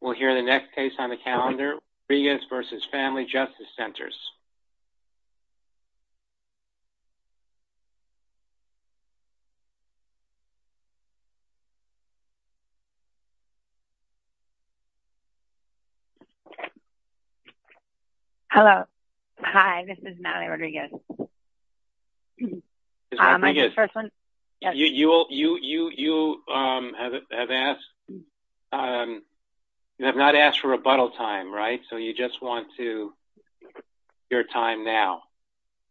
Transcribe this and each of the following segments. We'll hear the next case on the calendar, Rodriguez v. Family Justice Centers. Hello. Hi, this is Natalie Rodriguez. You have not asked for rebuttal time, right? So you just want your time now,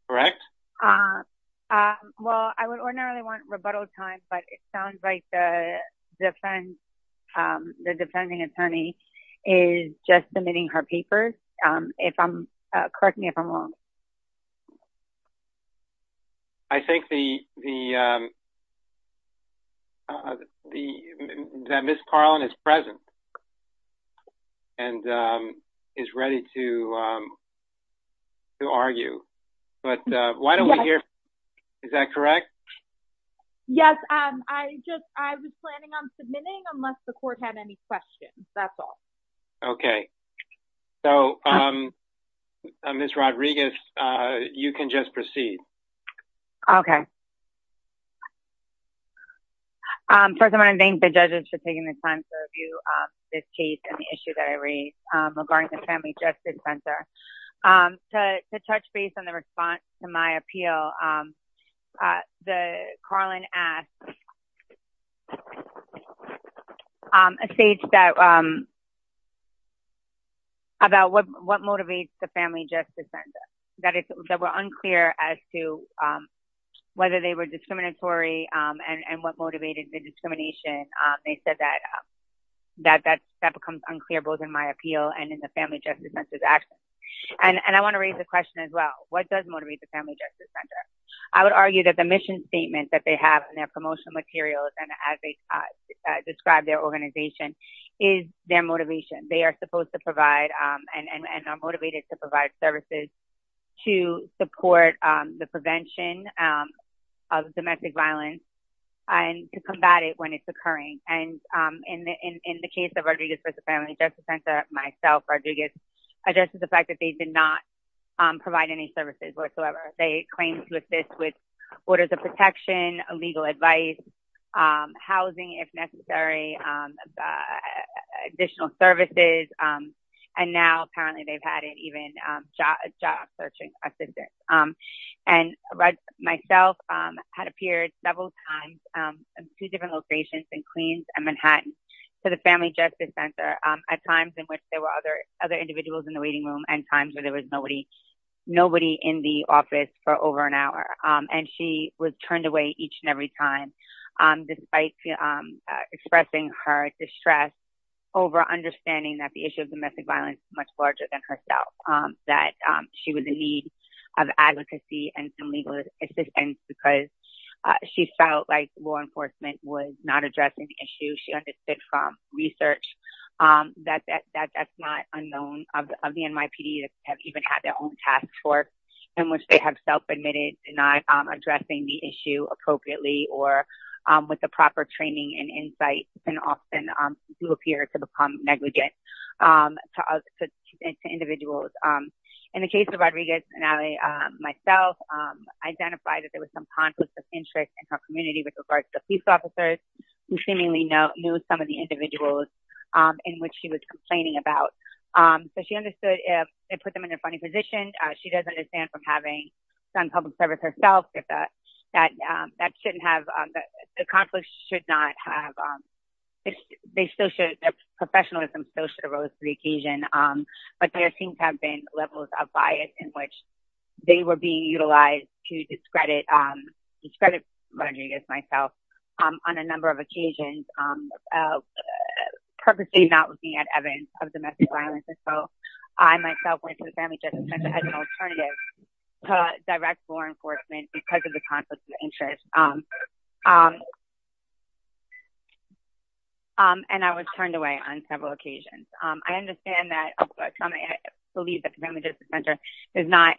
correct? Well, I would ordinarily want rebuttal time, but it sounds like the defending attorney is just submitting her papers. Correct me if I'm wrong. I think that Ms. Carlin is present, and is ready to argue. But why don't we hear, is that correct? Yes, I was planning on submitting unless the Okay. So, Ms. Rodriguez, you can just proceed. Okay. First of all, I want to thank the judges for taking the time to review this case and the issue that I raised regarding the Family Justice Center. To touch base on the response to my appeal, first of all, Carlin asked a state about what motivates the Family Justice Center. That were unclear as to whether they were discriminatory, and what motivated the discrimination. They said that that becomes unclear both in my appeal and in the Family Justice Center's And I want to raise the question as well. What does motivate the Family Justice Center? I would argue that the mission statement that they have in their promotional materials, and as they describe their organization, is their motivation. They are supposed to provide and are motivated to provide services to support the prevention of domestic violence, and to combat it when it's occurring. And in the case of Rodriguez versus the Family Justice Center, myself, Rodriguez, addresses the fact that they did not provide any services whatsoever. They claimed to assist with orders of protection, legal advice, housing if necessary, additional services, and now apparently they've had even job searching assistance. And myself had appeared several times in two different locations in Queens and Manhattan to the Family Justice Center, at times in which there were other individuals in the waiting room, and times where there was nobody in the office for over an hour. And she was turned away each and every time, despite expressing her distress over understanding that the issue of domestic violence is much larger than herself. That she was in need of advocacy and some legal assistance because she felt like law enforcement was not addressing the issue she understood from research. That's not unknown of the NYPD to have even had their own task force, in which they have self-admitted to not addressing the issue appropriately or with the proper training and insight, and often do appear to become negligent to individuals. In the case of Rodriguez and I, myself, identified that there was some conflict of interest in her community with regards to the police officers, who seemingly knew some of the individuals in which she was complaining about. So she understood if they put them in a funny position. She does understand from having done public service herself that that shouldn't have, the conflict should not have, their professionalism still should arose to the occasion. But there seems to have been levels of bias in which they were being discredited, Rodriguez and myself, on a number of occasions, purposely not looking at evidence of domestic violence. And so I, myself, went to the Family Justice Center as an alternative to direct law enforcement because of the conflict of interest. And I was turned away on several occasions. I understand that, I believe that the Family Justice Center does not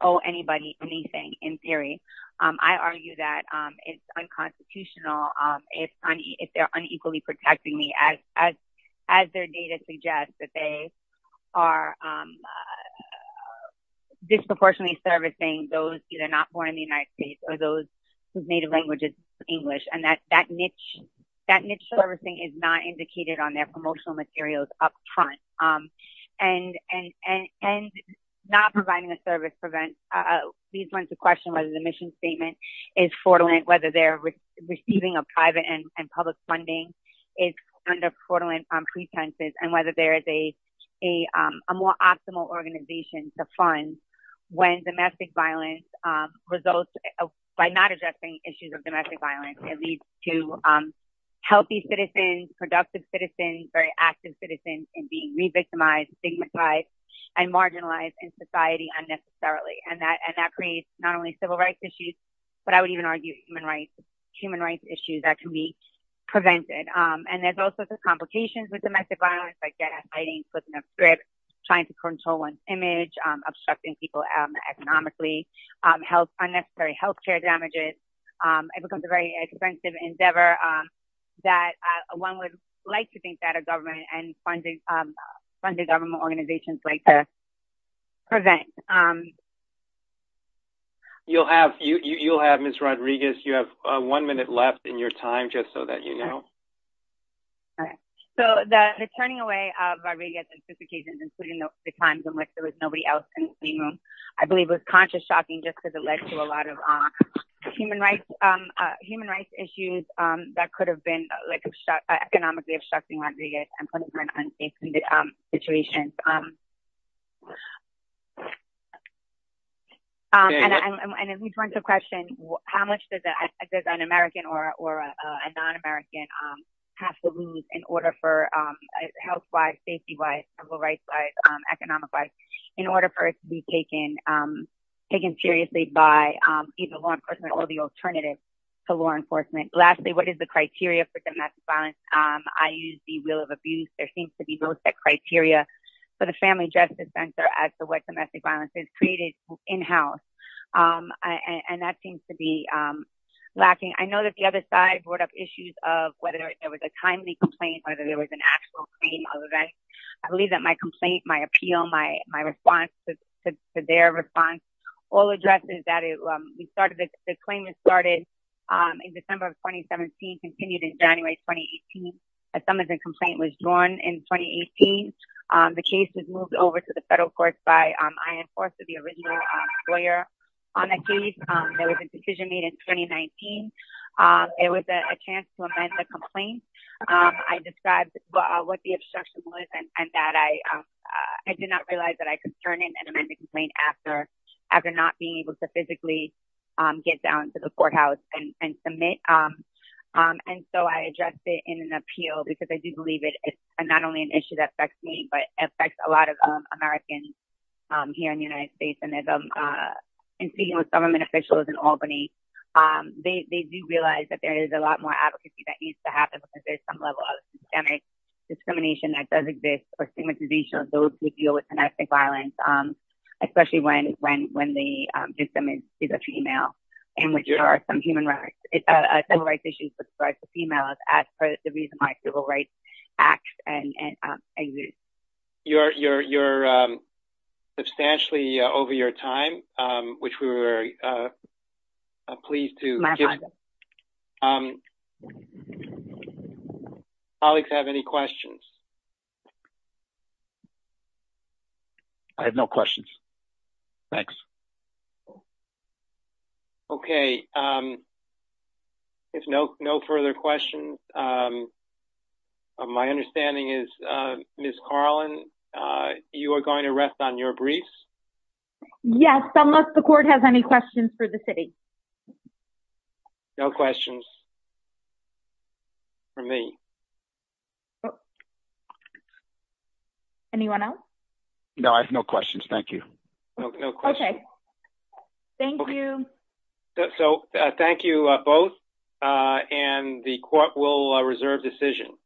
owe anybody anything, in theory. I argue that it's unconstitutional if they're unequally protecting me, as their data suggests, that they are disproportionately servicing those either not born in the United States or those whose native language is English. And that niche servicing is not indicated on their promotional materials up front. And not providing a service prevents these ones to question whether the mission statement is fraudulent, whether they're receiving a private and public funding is under fraudulent pretenses, and whether there is a more optimal organization to fund when domestic violence results by not addressing issues of domestic violence, it leads to healthy citizens, productive citizens, very active citizens in being re-victimized, stigmatized, and marginalized in society unnecessarily. And that creates not only civil rights issues, but I would even argue human rights issues that can be prevented. And there's all sorts of complications with domestic violence, I guess, fighting for the grip, trying to control one's image, obstructing people economically, unnecessary health care damages. It becomes a very expensive endeavor that one would like to think that a government and funded government organizations like to prevent. You'll have, you'll have Ms. Rodriguez, you have one minute left in your time, just so that you know. All right. So the turning away of Rodriguez on two occasions, including the times in which there was nobody else in the room, I believe was consciously shocking, just because it led to a lot of human rights, human rights issues that could have been like, economically obstructing Rodriguez and putting her in unsafe situations. And if we turn to the question, how much does an American or a non-American have to lose in order for health-wise, safety-wise, civil rights-wise, economic-wise, in order to have an alternative to law enforcement? Lastly, what is the criteria for domestic violence? I use the wheel of abuse. There seems to be no set criteria for the Family Justice Center as to what domestic violence is created in-house. And that seems to be lacking. I know that the other side brought up issues of whether there was a timely complaint, whether there was an actual claim of event. I believe that my complaint, my appeal, my response to their response, all addresses that we started. The claim was started in December of 2017, continued in January 2018. A summons and complaint was drawn in 2018. The case was moved over to the federal courts by I enforcer, the original lawyer on the case. There was a decision made in 2019. It was a chance to amend the complaint. I described what the obstruction was, and that I did not realize that I could turn in an amended complaint after not being able to physically get down to the courthouse and submit. And so I addressed it in an appeal because I do believe it is not only an issue that affects me, but affects a lot of Americans here in the United States. And speaking with government officials in Albany, they do realize that there is a lot more advocacy that needs to happen because there's some level of systemic discrimination that does exist for stigmatization of those who deal with domestic violence, especially when the victim is a female and which are some human rights, civil rights issues with regards to females as part of the reason why civil rights act and exist. You're substantially over your time, which we were pleased to give. My pleasure. Colleagues have any questions? I have no questions. Thanks. Okay. If no, no further questions. My understanding is Ms. Carlin, you are going to rest on your briefs. Yes, unless the court has any questions for the city. No questions for me. Anyone else? No, I have no questions. Thank you. Okay. Thank you. So thank you both. And the court will reserve decision.